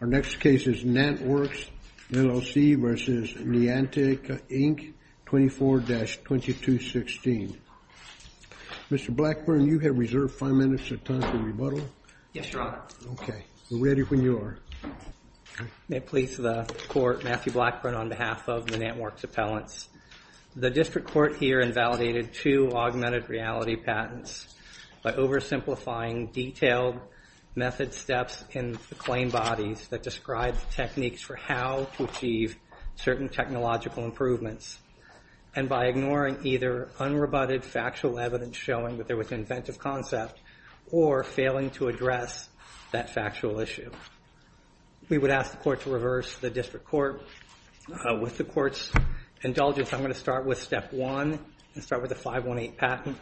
Our next case is NantWorks, LLC v. Niantic, Inc., 24-2216. Mr. Blackburn, you have reserved five minutes of time to rebuttal. Yes, Your Honor. OK, we're ready when you are. May it please the court, Matthew Blackburn on behalf of the NantWorks appellants. The district court here invalidated two augmented reality patents by oversimplifying detailed method steps in the claim bodies that describe techniques for how to achieve certain technological improvements. And by ignoring either unrebutted factual evidence showing that there was an inventive concept or failing to address that factual issue. We would ask the court to reverse the district court. With the court's indulgence, I'm going to start with step one and start with the 518 patent.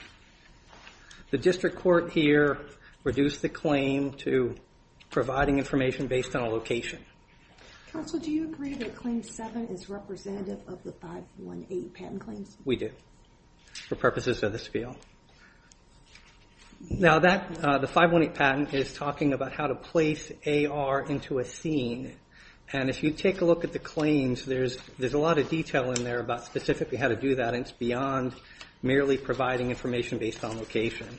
The district court here reduced the claim to providing information based on a location. Counsel, do you agree that claim seven is representative of the 518 patent claims? We do, for purposes of this appeal. Now, the 518 patent is talking about how to place AR into a scene. And if you take a look at the claims, there's a lot of detail in there about specifically how to do that. It's beyond merely providing information based on location.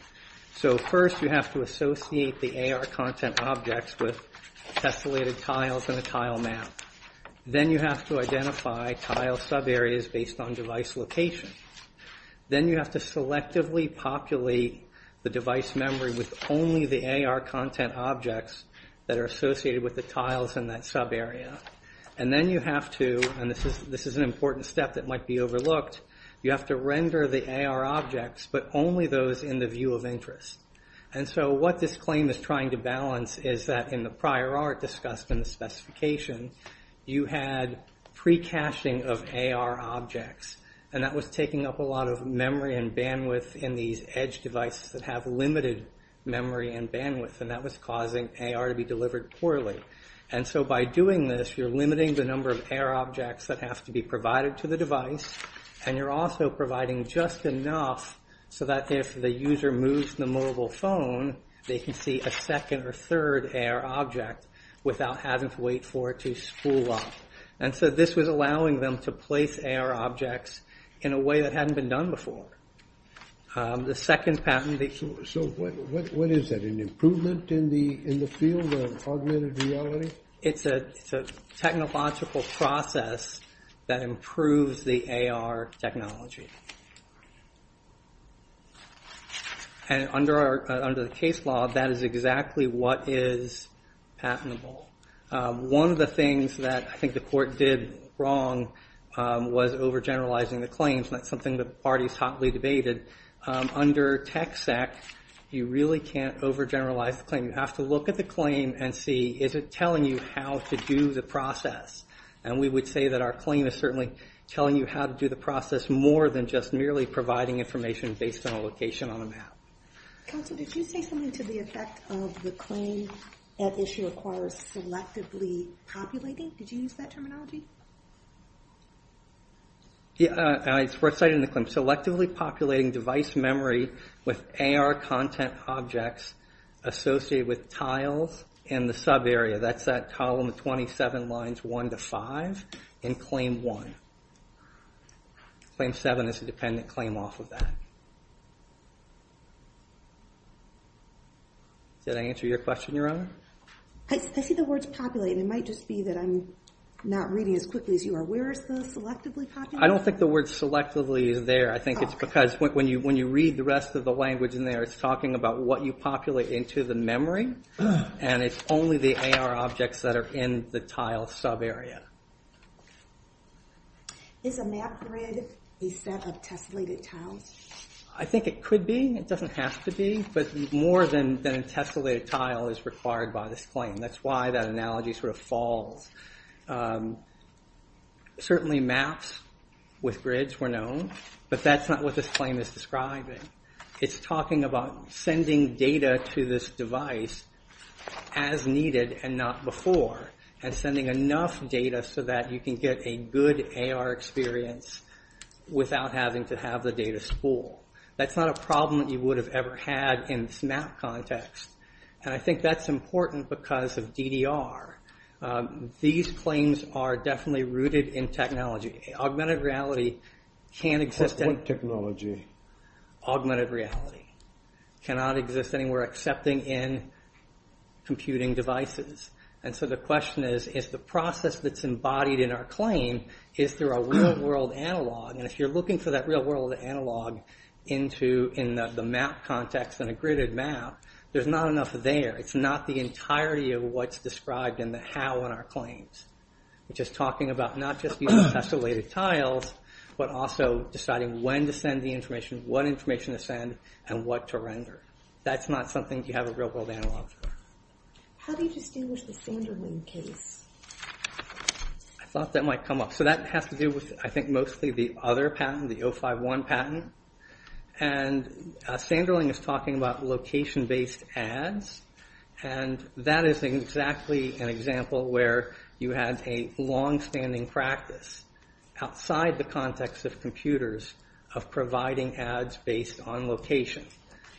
So first, you have to associate the AR content objects with tessellated tiles and a tile map. Then you have to identify tile sub-areas based on device location. Then you have to selectively populate the device memory with only the AR content objects that are associated with the tiles in that sub-area. And then you have to, and this is an important step that might be overlooked, you have to render the AR objects, but only those in the view of interest. And so what this claim is trying to balance is that in the prior art discussed in the specification, you had pre-caching of AR objects. And that was taking up a lot of memory and bandwidth in these edge devices that have limited memory and bandwidth. And that was causing AR to be delivered poorly. And so by doing this, you're limiting the number of AR objects that have to be provided to the device. And you're also providing just enough so that if the user moves the mobile phone, they can see a second or third AR object without having to wait for it to spool up. And so this was allowing them to place AR objects in a way that hadn't been done before. The second pattern that you can see. So what is that? An improvement in the field of augmented reality? It's a technological process that improves the AR technology. And under the case law, that is exactly what is patentable. One of the things that I think the court did wrong was overgeneralizing the claims. And that's something the parties hotly debated. Under TechSec, you really can't overgeneralize the claim. You have to look at the claim and see, is it telling you how to do the process? And we would say that our claim is certainly telling you how to do the process more than just merely providing information based on a location on a map. Counsel, did you say something to the effect of the claim that issue requires selectively populating? Did you use that terminology? Yeah, we're citing the claim. Selectively populating device memory with AR content objects associated with tiles in the sub area. That's that column of 27 lines 1 to 5 in claim 1. Claim 7 is a dependent claim off of that. Did I answer your question, Your Honor? I see the words populate. It might just be that I'm not reading as quickly as you are. Where is the selectively populating? I don't think the word selectively is there. I think it's because when you read the rest of the language in there, it's talking about what you populate into the memory. And it's only the AR objects that are in the tile sub area. Is a map grid a set of tessellated tiles? I think it could be. It doesn't have to be. But more than a tessellated tile is required by this claim. That's why that analogy sort of falls. Certainly maps with grids were known. But that's not what this claim is describing. It's talking about sending data to this device as needed and not before. And sending enough data so that you can get a good AR experience without having to have the data spool. That's not a problem that you would have ever had in this map context. And I think that's important because of DDR. These claims are definitely rooted in technology. Augmented reality can exist in technology. Augmented reality cannot exist anywhere excepting in computing devices. And so the question is, is the process that's embodied in our claim, is there a real world analog? And if you're looking for that real world analog into the map context in a gridded map, there's not enough there. It's not the entirety of what's described in the how in our claims. Which is talking about not just using tessellated tiles, but also deciding when to send the information, what information to send, and what to render. That's not something you have a real world analog for. How do you distinguish the Sanderling case? I thought that might come up. So that has to do with, I think, mostly the other patent, the 051 patent. And Sanderling is talking about location based ads. And that is exactly an example where you had a long standing practice. Outside the context of computers, of providing ads based on location.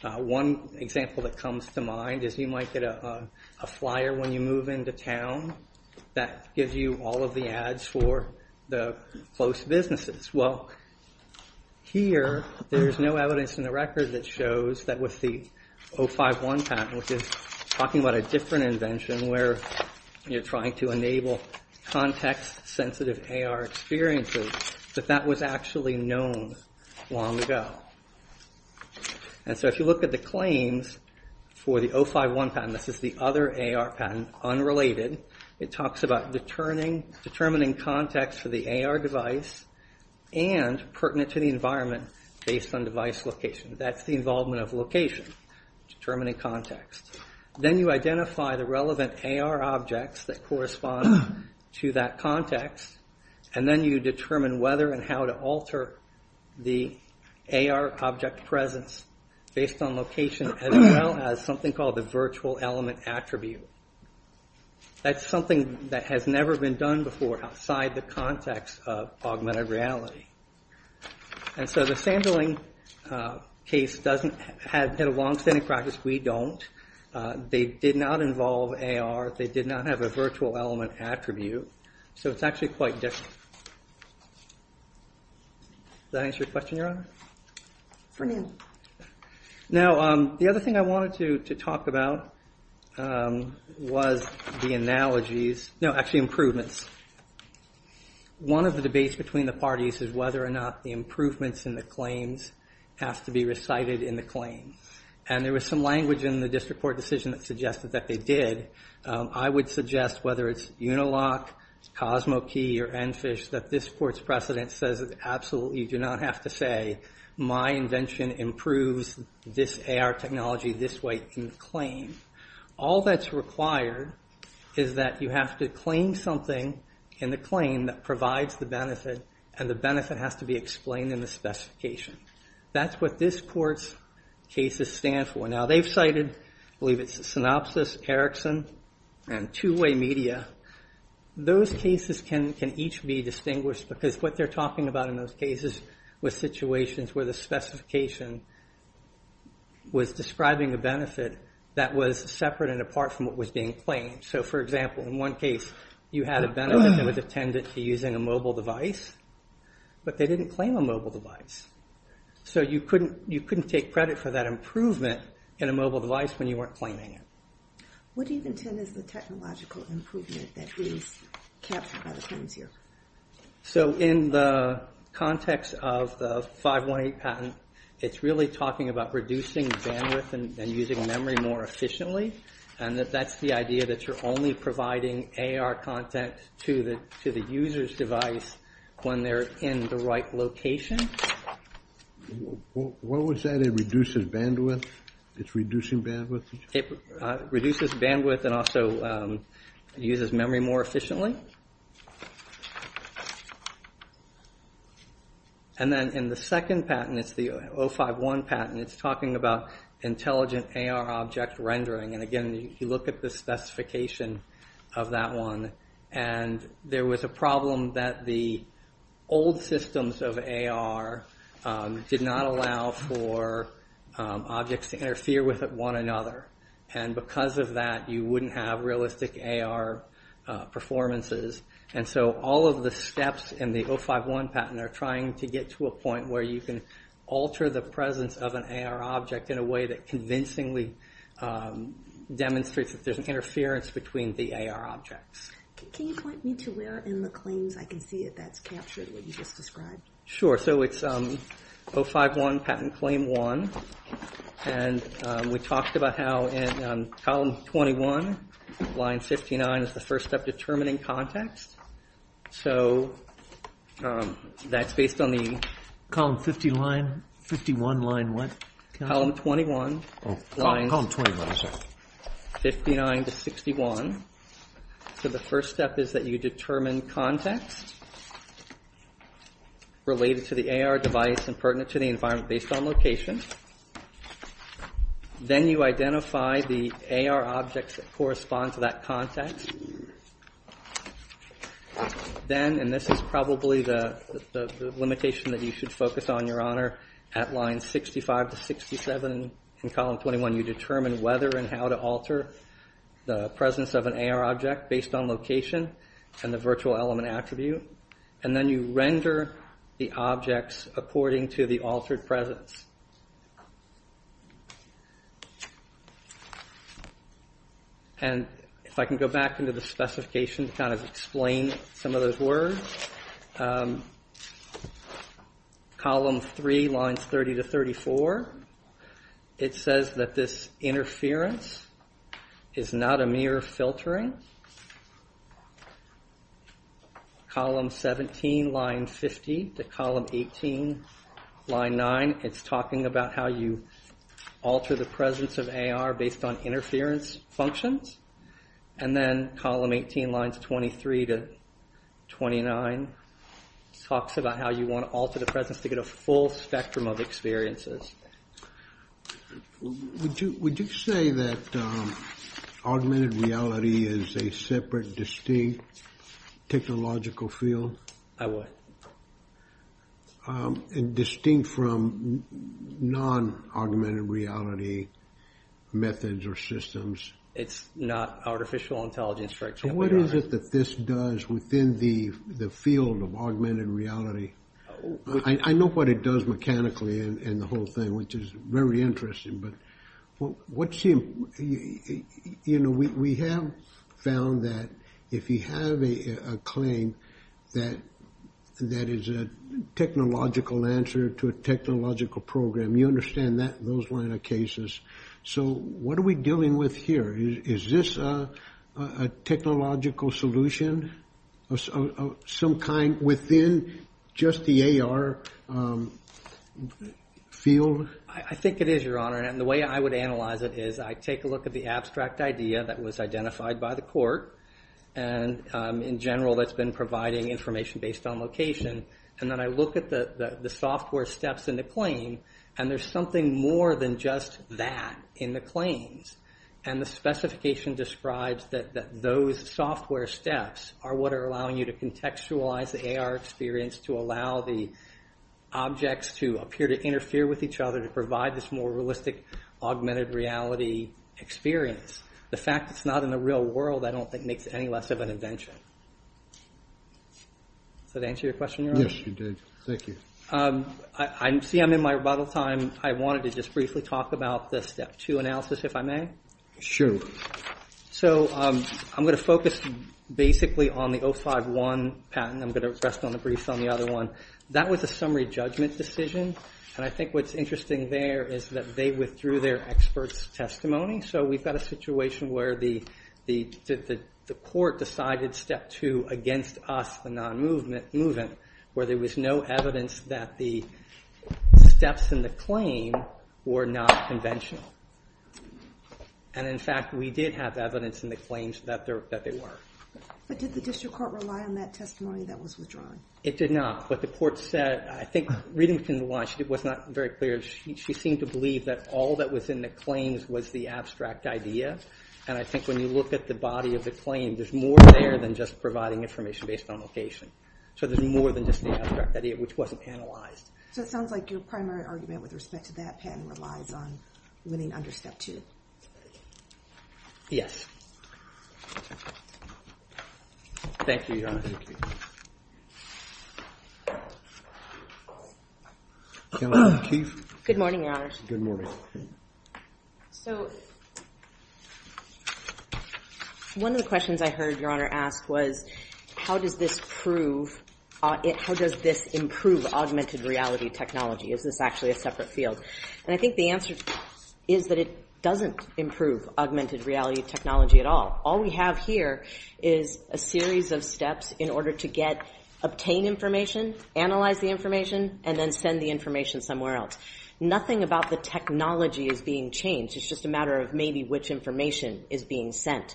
One example that comes to mind is you might get a flyer when you move into town that gives you all of the ads for the close businesses. Well, here there's no evidence in the record that shows that with the 051 patent, which is talking about a different invention where you're trying to enable context sensitive AR experiences, that that was actually known long ago. And so if you look at the claims for the 051 patent, this is the other AR patent, unrelated. It talks about determining context for the AR device and pertinent to the environment based on device location. That's the involvement of location, determining context. Then you identify the relevant AR objects that correspond to that context. And then you determine whether and how to alter the AR object presence based on location as well as something called the virtual element attribute. That's something that has never been done before outside the context of augmented reality. And so the Sanderling case doesn't have a long standing practice, we don't. They did not involve AR, they did not have a virtual element attribute. So it's actually quite different. Does that answer your question, Your Honor? For now. Now, the other thing I wanted to talk about was the analogies, no, actually improvements. One of the debates between the parties is whether or not the improvements in the claims have to be recited in the claim. And there was some language in the district court decision that suggested that they did. I would suggest whether it's Unilock, CosmoKey, or NPHISH, that this court's precedent says that absolutely you do not have to say my invention improves this AR technology this way in the claim. All that's required is that you have to claim something in the claim that provides the benefit and the benefit has to be explained in the specification. That's what this court's cases stand for. Now, they've cited, I believe it's Synopsys, Erickson, and Two-Way Media. Those cases can each be distinguished because what they're talking about in those cases was situations where the specification was describing a benefit that was separate and apart from what was being claimed. So for example, in one case, you had a benefit that was attendant to using a mobile device, but they didn't claim a mobile device. So you couldn't take credit for that improvement in a mobile device when you weren't claiming it. What do you intend as the technological improvement that is kept by the claims here? So in the context of the 518 patent, it's really talking about reducing bandwidth and using memory more efficiently. And that's the idea that you're only providing AR content to the user's device when they're in the right location. What was that, it reduces bandwidth? It's reducing bandwidth? It reduces bandwidth and also uses memory more efficiently. And then in the second patent, it's the 051 patent, it's talking about intelligent AR object rendering. And again, you look at the specification of that one. And there was a problem that the old systems of AR did not allow for objects to interfere with one another. And because of that, you wouldn't have realistic AR performances. And so all of the steps in the 051 patent are trying to get to a point where you can alter the presence of an AR object in a way that convincingly demonstrates that there's an interference between the AR objects. Can you point me to where in the claims I can see that that's captured what you just described? Sure, so it's 051 patent claim one. And we talked about how in column 21, line 59 is the first step determining context. So that's based on the- Column 51 line what? Column 21. Oh, column 21, sorry. 59 to 61. So the first step is that you determine context related to the AR device and pertinent to the environment based on location. Then you identify the AR objects that correspond to that context. Then, and this is probably the limitation that you should focus on, Your Honor, at line 65 to 67 in column 21, you determine whether and how to alter the presence of an AR object based on location and the virtual element attribute. And then you render the objects according to the altered presence. And if I can go back into the specification to kind of explain some of those words. Column three, lines 30 to 34. It says that this interference is not a mere filtering. Column 17, line 50 to column 18, line nine. It's talking about how you alter the presence of AR based on interference functions. And then column 18, lines 23 to 29 talks about how you want to alter the presence to get a full spectrum of experiences. Would you say that augmented reality is a separate, distinct technological field? I would. And distinct from non-augmented reality methods or systems? It's not artificial intelligence, for example, Your Honor. So what is it that this does within the field of augmented reality? I know what it does mechanically and the whole thing, which is very interesting. But what's the, you know, we have found that if you have a claim that is a technological answer to a technological program, you understand those line of cases. So what are we dealing with here? Is this a technological solution of some kind within just the AR field? I think it is, Your Honor. And the way I would analyze it is I take a look at the abstract idea that was identified by the court. And in general, that's been providing information based on location. And then I look at the software steps in the claim, and there's something more than just that in the claims. And the specification describes that those software steps are what are allowing you to contextualize the AR experience to allow the objects to appear to interfere with each other to provide this more realistic augmented reality experience. The fact that it's not in the real world, I don't think, makes it any less of an invention. Does that answer your question, Your Honor? Yes, it did. Thank you. I see I'm in my rebuttal time. I wanted to just briefly talk about the step two analysis, if I may. Sure. So I'm gonna focus basically on the 051 patent. I'm gonna rest on the briefs on the other one. That was a summary judgment decision. And I think what's interesting there is that they withdrew their expert's testimony. So we've got a situation where the court decided step two against us, the non-movement, where there was no evidence that the steps in the claim were not conventional. And in fact, we did have evidence in the claims that they were. But did the district court rely on that testimony that was withdrawn? It did not. What the court said, I think reading from the line, she was not very clear. She seemed to believe that all that was in the claims was the abstract idea. And I think when you look at the body of the claim, there's more there than just providing information based on location. So there's more than just the abstract idea, which wasn't analyzed. So it sounds like your primary argument with respect to that patent relies on winning under step two. Thank you, Your Honor. Caroline McKeith. Good morning, Your Honors. Good morning. So one of the questions I heard Your Honor ask was how does this improve augmented reality technology? Is this actually a separate field? And I think the answer is that it doesn't improve augmented reality technology at all. All we have here is a series of steps in order to get, obtain information, analyze the information, and then send the information somewhere else. Nothing about the technology is being changed. It's just a matter of maybe which information is being sent.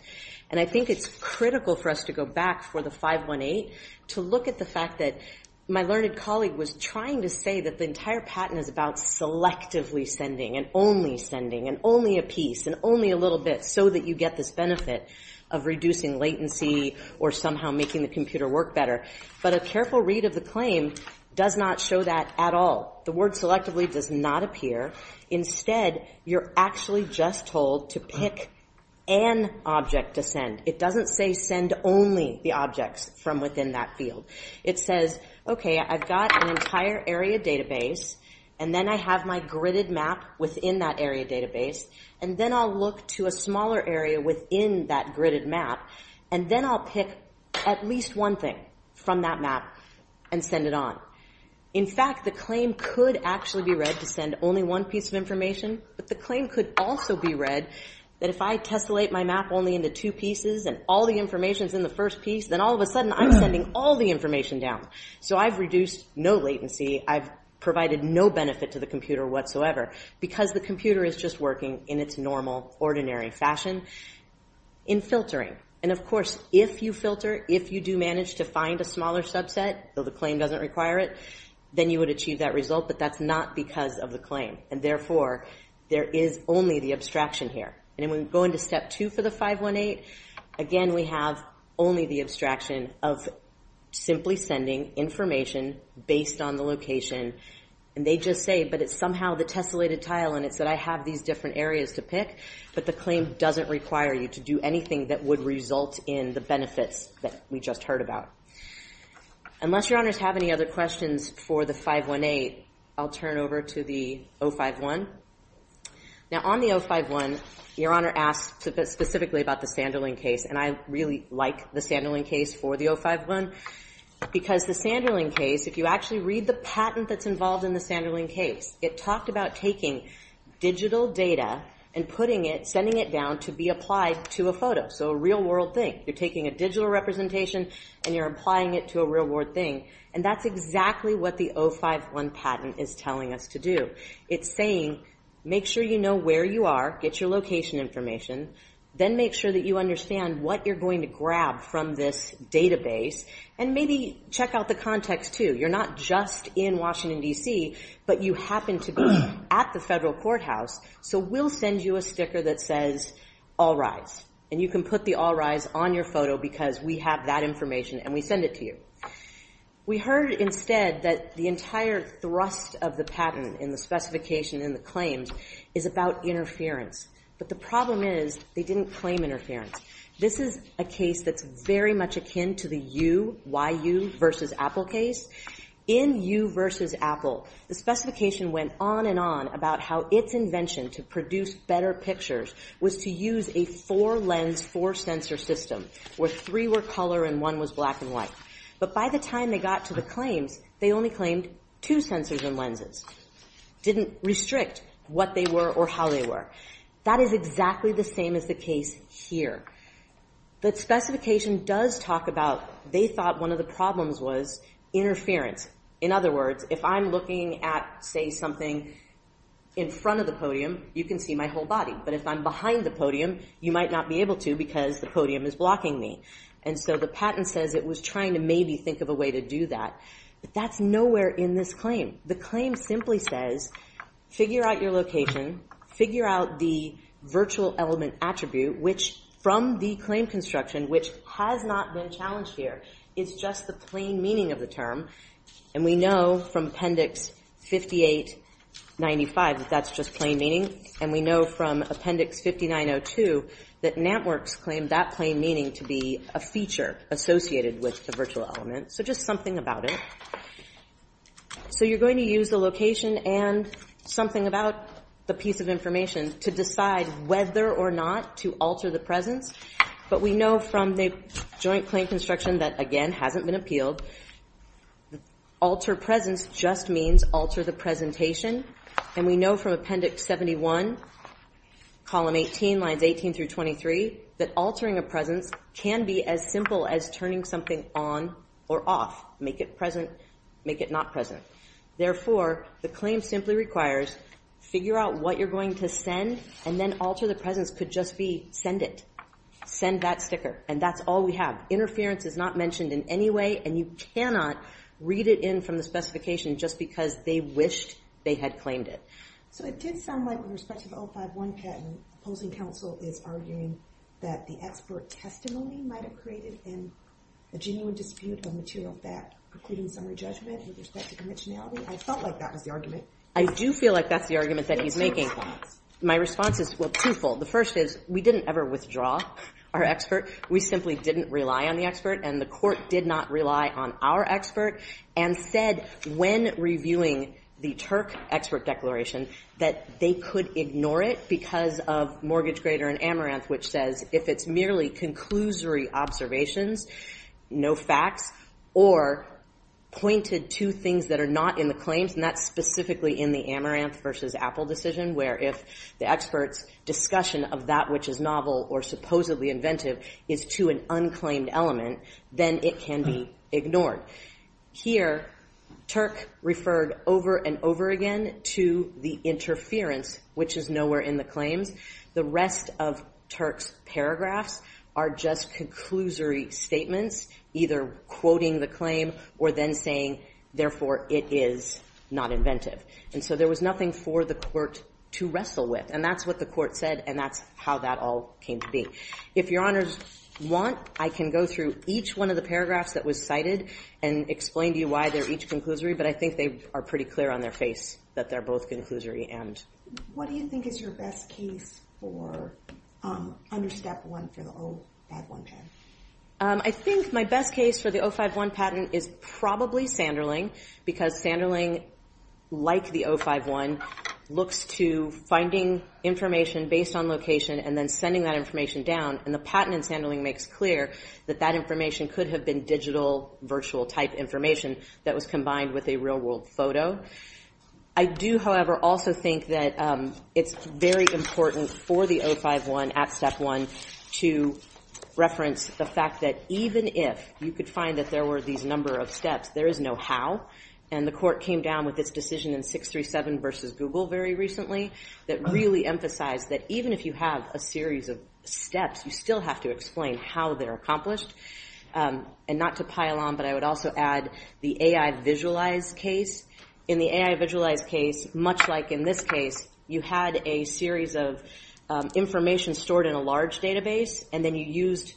And I think it's critical for us to go back for the 518 to look at the fact that my learned colleague was trying to say that the entire patent is about selectively sending and only sending and only a piece and only a little bit so that you get this benefit of reducing latency or somehow making the computer work better. But a careful read of the claim does not show that at all. The word selectively does not appear. Instead, you're actually just told to pick an object to send. It doesn't say send only the objects from within that field. It says, okay, I've got an entire area database, and then I have my gridded map within that area database, and then I'll look to a smaller area within that gridded map, and then I'll pick at least one thing from that map and send it on. In fact, the claim could actually be read to send only one piece of information, but the claim could also be read that if I tessellate my map only into two pieces and all the information's in the first piece, then all of a sudden I'm sending all the information down. So I've reduced no latency. I've provided no benefit to the computer whatsoever because the computer is just working in its normal, ordinary fashion in filtering. And of course, if you filter, if you do manage to find a smaller subset, though the claim doesn't require it, then you would achieve that result, but that's not because of the claim. And therefore, there is only the abstraction here. And when we go into step two for the 518, again, we have only the abstraction of simply sending information based on the location. And they just say, but it's somehow the tessellated tile, and it's that I have these different areas to pick, but the claim doesn't require you to do anything that would result in the benefits that we just heard about. Unless Your Honors have any other questions for the 518, I'll turn over to the 051. Now, on the 051, Your Honor asked specifically about the Sanderling case, and I really like the Sanderling case for the 051 because the Sanderling case, if you actually read the patent that's involved in the Sanderling case, it talked about taking digital data and putting it, sending it down to be applied to a photo, so a real-world thing. You're taking a digital representation, and you're applying it to a real-world thing. And that's exactly what the 051 patent is telling us to do. It's saying, make sure you know where you are, get your location information, then make sure that you understand what you're going to grab from this database, and maybe check out the context, too. You're not just in Washington, D.C., but you happen to be at the federal courthouse, so we'll send you a sticker that says All Rise, and you can put the All Rise on your photo because we have that information, and we send it to you. We heard instead that the entire thrust of the patent in the specification in the claims is about interference, but the problem is they didn't claim interference. This is a case that's very much akin to the you, why you, versus Apple case. In you versus Apple, the specification went on and on about how its invention to produce better pictures was to use a four-lens, four-sensor system where three were color and one was black and white. But by the time they got to the claims, they only claimed two sensors and lenses. Didn't restrict what they were or how they were. That is exactly the same as the case here. The specification does talk about, they thought one of the problems was interference. In other words, if I'm looking at, say, something in front of the podium, you can see my whole body, but if I'm behind the podium, you might not be able to because the podium is blocking me. And so the patent says it was trying to maybe think of a way to do that, but that's nowhere in this claim. The claim simply says, figure out your location, figure out the virtual element attribute, which from the claim construction, which has not been challenged here, is just the plain meaning of the term. And we know from Appendix 5895 that that's just plain meaning and we know from Appendix 5902 that Nantworks claimed that plain meaning to be a feature associated with the virtual element. So just something about it. So you're going to use the location and something about the piece of information to decide whether or not to alter the presence, but we know from the joint claim construction that, again, hasn't been appealed, alter presence just means alter the presentation. And we know from Appendix 71, column 18, lines 18 through 23 that altering a presence can be as simple as turning something on or off. Make it present, make it not present. Therefore, the claim simply requires, figure out what you're going to send and then alter the presence could just be, send it. Send that sticker. And that's all we have. Interference is not mentioned in any way and you cannot read it in from the specification just because they wished they had claimed it. So it did sound like with respect to the 051 patent, opposing counsel is arguing that the expert testimony might have created a genuine dispute on material that precludes summary judgment with respect to conventionality. I felt like that was the argument. I do feel like that's the argument that he's making. My response is, well, twofold. The first is we didn't ever withdraw our expert. We simply didn't rely on the expert and the court did not rely on our expert and said when reviewing the Turk expert declaration that they could ignore it because of Mortgage Grader and Amaranth, which says if it's merely conclusory observations, no facts, or pointed to things that are not in the claims and that's specifically in the Amaranth versus Apple decision where if the expert's discussion of that which is novel or supposedly inventive is to an unclaimed element, then it can be ignored. Here, Turk referred over and over again to the interference, which is nowhere in the claims. The rest of Turk's paragraphs are just conclusory statements either quoting the claim or then saying, therefore, it is not inventive. And so there was nothing for the court to wrestle with and that's what the court said and that's how that all came to be. If your honors want, I can go through each one of the paragraphs that was cited and explain to you why they're each conclusory, but I think they are pretty clear on their face that they're both conclusory and. What do you think is your best case for under step one for the 051 patent? I think my best case for the 051 patent is probably Sanderling because Sanderling, like the 051, looks to finding information based on location and then sending that information down and the patent in Sanderling makes clear that that information could have been digital virtual type information that was combined with a real world photo. I do, however, also think that it's very important for the 051 at step one to reference the fact that even if you could find that there were these number of steps, there is no how and the court came down with this decision in 637 versus Google very recently that really emphasized that even if you have a series of steps, you still have to explain how they're accomplished and not to pile on, but I would also add the AI visualize case. In the AI visualize case, much like in this case, you had a series of information stored in a large database and then you used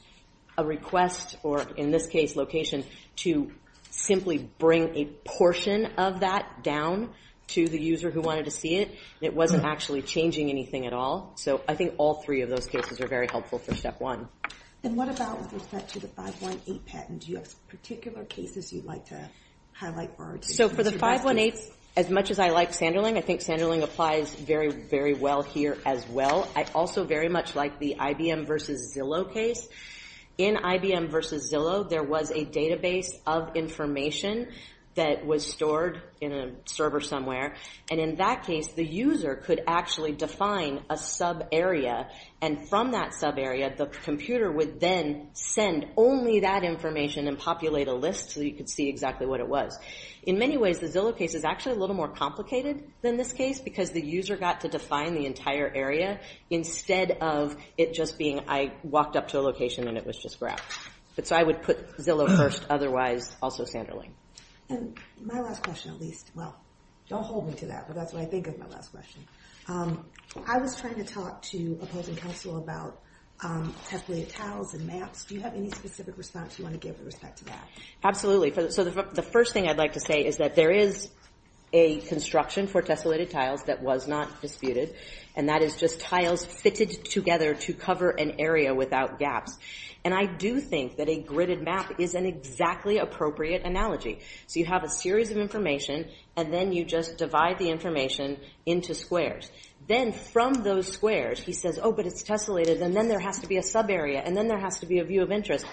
a request or in this case location to simply bring a portion of that down to the user who wanted to see it and it wasn't actually changing anything at all. So I think all three of those cases are very helpful for step one. And what about with respect to the 518 patent? Do you have particular cases you'd like to highlight? So for the 518, as much as I like Sanderling, I think Sanderling applies very, very well here as well. I also very much like the IBM versus Zillow case. In IBM versus Zillow, there was a database of information that was stored in a server somewhere and in that case, the user could actually define a sub area and from that sub area, the computer would then send only that information and populate a list so you could see exactly what it was. In many ways, the Zillow case is actually a little more complicated than this case because the user got to define the entire area instead of it just being I walked up to a location and it was just graph. But so I would put Zillow first, otherwise also Sanderling. And my last question at least, well, don't hold me to that but that's what I think of my last question. I was trying to talk to opposing counsel about teflon tiles and maps. Do you have any specific response you want to give with respect to that? Absolutely. So the first thing I'd like to say is that there is a construction for tessellated tiles that was not disputed and that is just tiles fitted together to cover an area without gaps. And I do think that a gridded map is an exactly appropriate analogy. So you have a series of information and then you just divide the information into squares. Then from those squares, he says, oh, but it's tessellated and then there has to be a sub area and then there has to be a view of interest.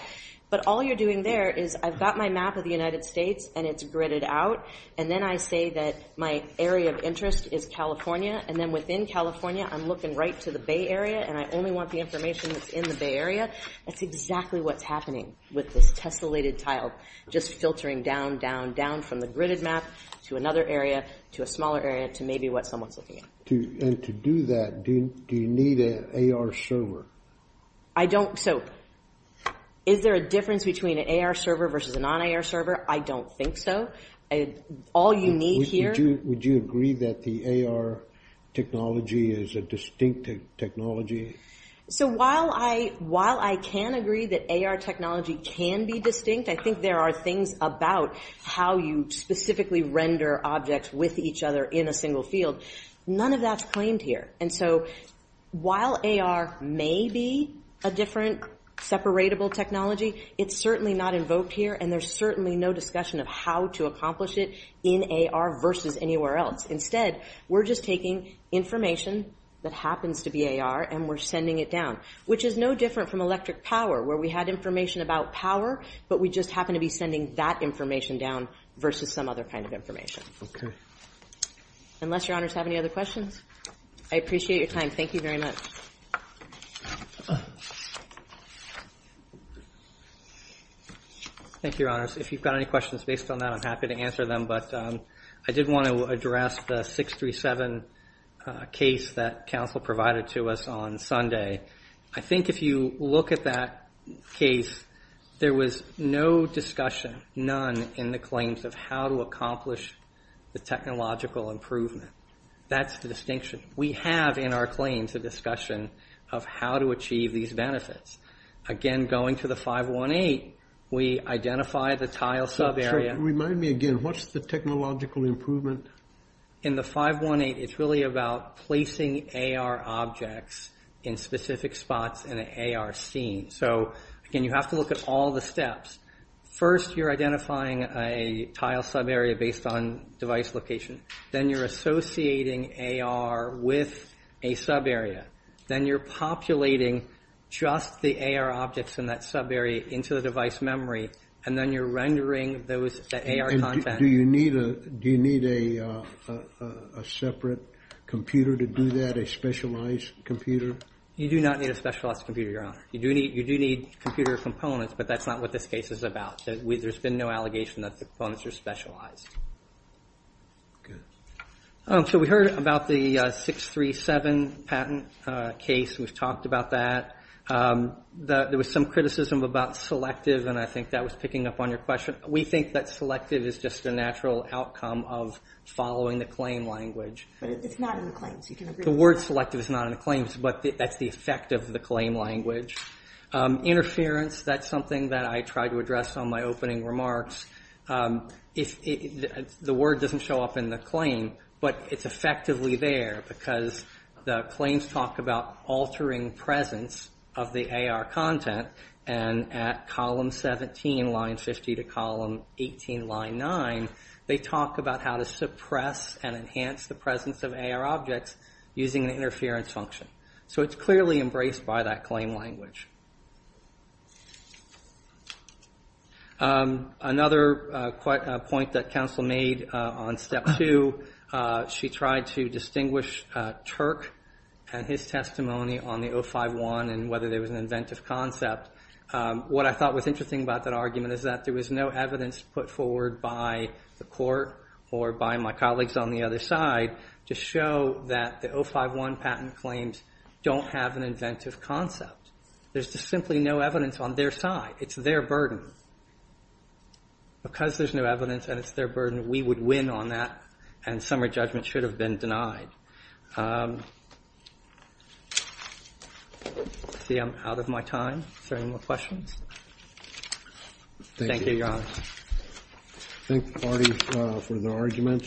But all you're doing there is I've got my map of the United States and it's gridded out. And then I say that my area of interest is California. And then within California, I'm looking right to the Bay Area and I only want the information that's in the Bay Area. That's exactly what's happening with this tessellated tile, just filtering down, down, down from the gridded map to another area, to a smaller area, to maybe what someone's looking at. And to do that, do you need an AR server? I don't, so, is there a difference between an AR server versus a non-AR server? I don't think so. All you need here. Would you agree that the AR technology is a distinct technology? So while I can agree that AR technology can be distinct, I think there are things about how you specifically render objects with each other in a single field. None of that's claimed here. And so while AR may be a different, separatable technology, it's certainly not invoked here and there's certainly no discussion of how to accomplish it in AR versus anywhere else. Instead, we're just taking information that happens to be AR and we're sending it down, which is no different from electric power, where we had information about power, but we just happen to be sending that information down versus some other kind of information. Unless your honors have any other questions, I appreciate your time. Thank you very much. Thank you, your honors. If you've got any questions based on that, I'm happy to answer them, but I did want to address the 637 case that counsel provided to us on Sunday. I think if you look at that case, there was no discussion, none in the claims of how to accomplish the technological improvement. That's the distinction. We have in our claims a discussion of how to achieve these benefits. Again, going to the 518, we identify the tile sub-area. Remind me again, what's the technological improvement? In the 518, it's really about placing AR objects in specific spots in an AR scene. So again, you have to look at all the steps. First, you're identifying a tile sub-area based on device location. Then you're associating AR with a sub-area. Then you're populating just the AR objects in that sub-area into the device memory, and then you're rendering the AR content. Do you need a separate computer to do that, a specialized computer? You do not need a specialized computer, your honor. You do need computer components, but that's not what this case is about. There's been no allegation that the components are specialized. Good. So we heard about the 637 patent case. We've talked about that. There was some criticism about selective, and I think that was picking up on your question. We think that selective is just a natural outcome of following the claim language. But it's not in the claims, you can agree with that. The word selective is not in the claims, but that's the effect of the claim language. Interference, that's something that I tried to address on my opening remarks. The word doesn't show up in the claim, but it's effectively there, because the claims talk about altering presence of the AR content, and at column 17, line 50 to column 18, line nine, they talk about how to suppress and enhance the presence of AR objects using an interference function. So it's clearly embraced by that claim language. Another point that counsel made on step two, she tried to distinguish Turk and his testimony on the 051 and whether there was an inventive concept. What I thought was interesting about that argument is that there was no evidence put forward by the court or by my colleagues on the other side to show that the 051 patent claims don't have an inventive concept. There's just simply no evidence on their side. It's their burden. Because there's no evidence and it's their burden, we would win on that, and summary judgment should have been denied. See, I'm out of my time. Is there any more questions? Thank you, Your Honor. Thank the parties for their arguments.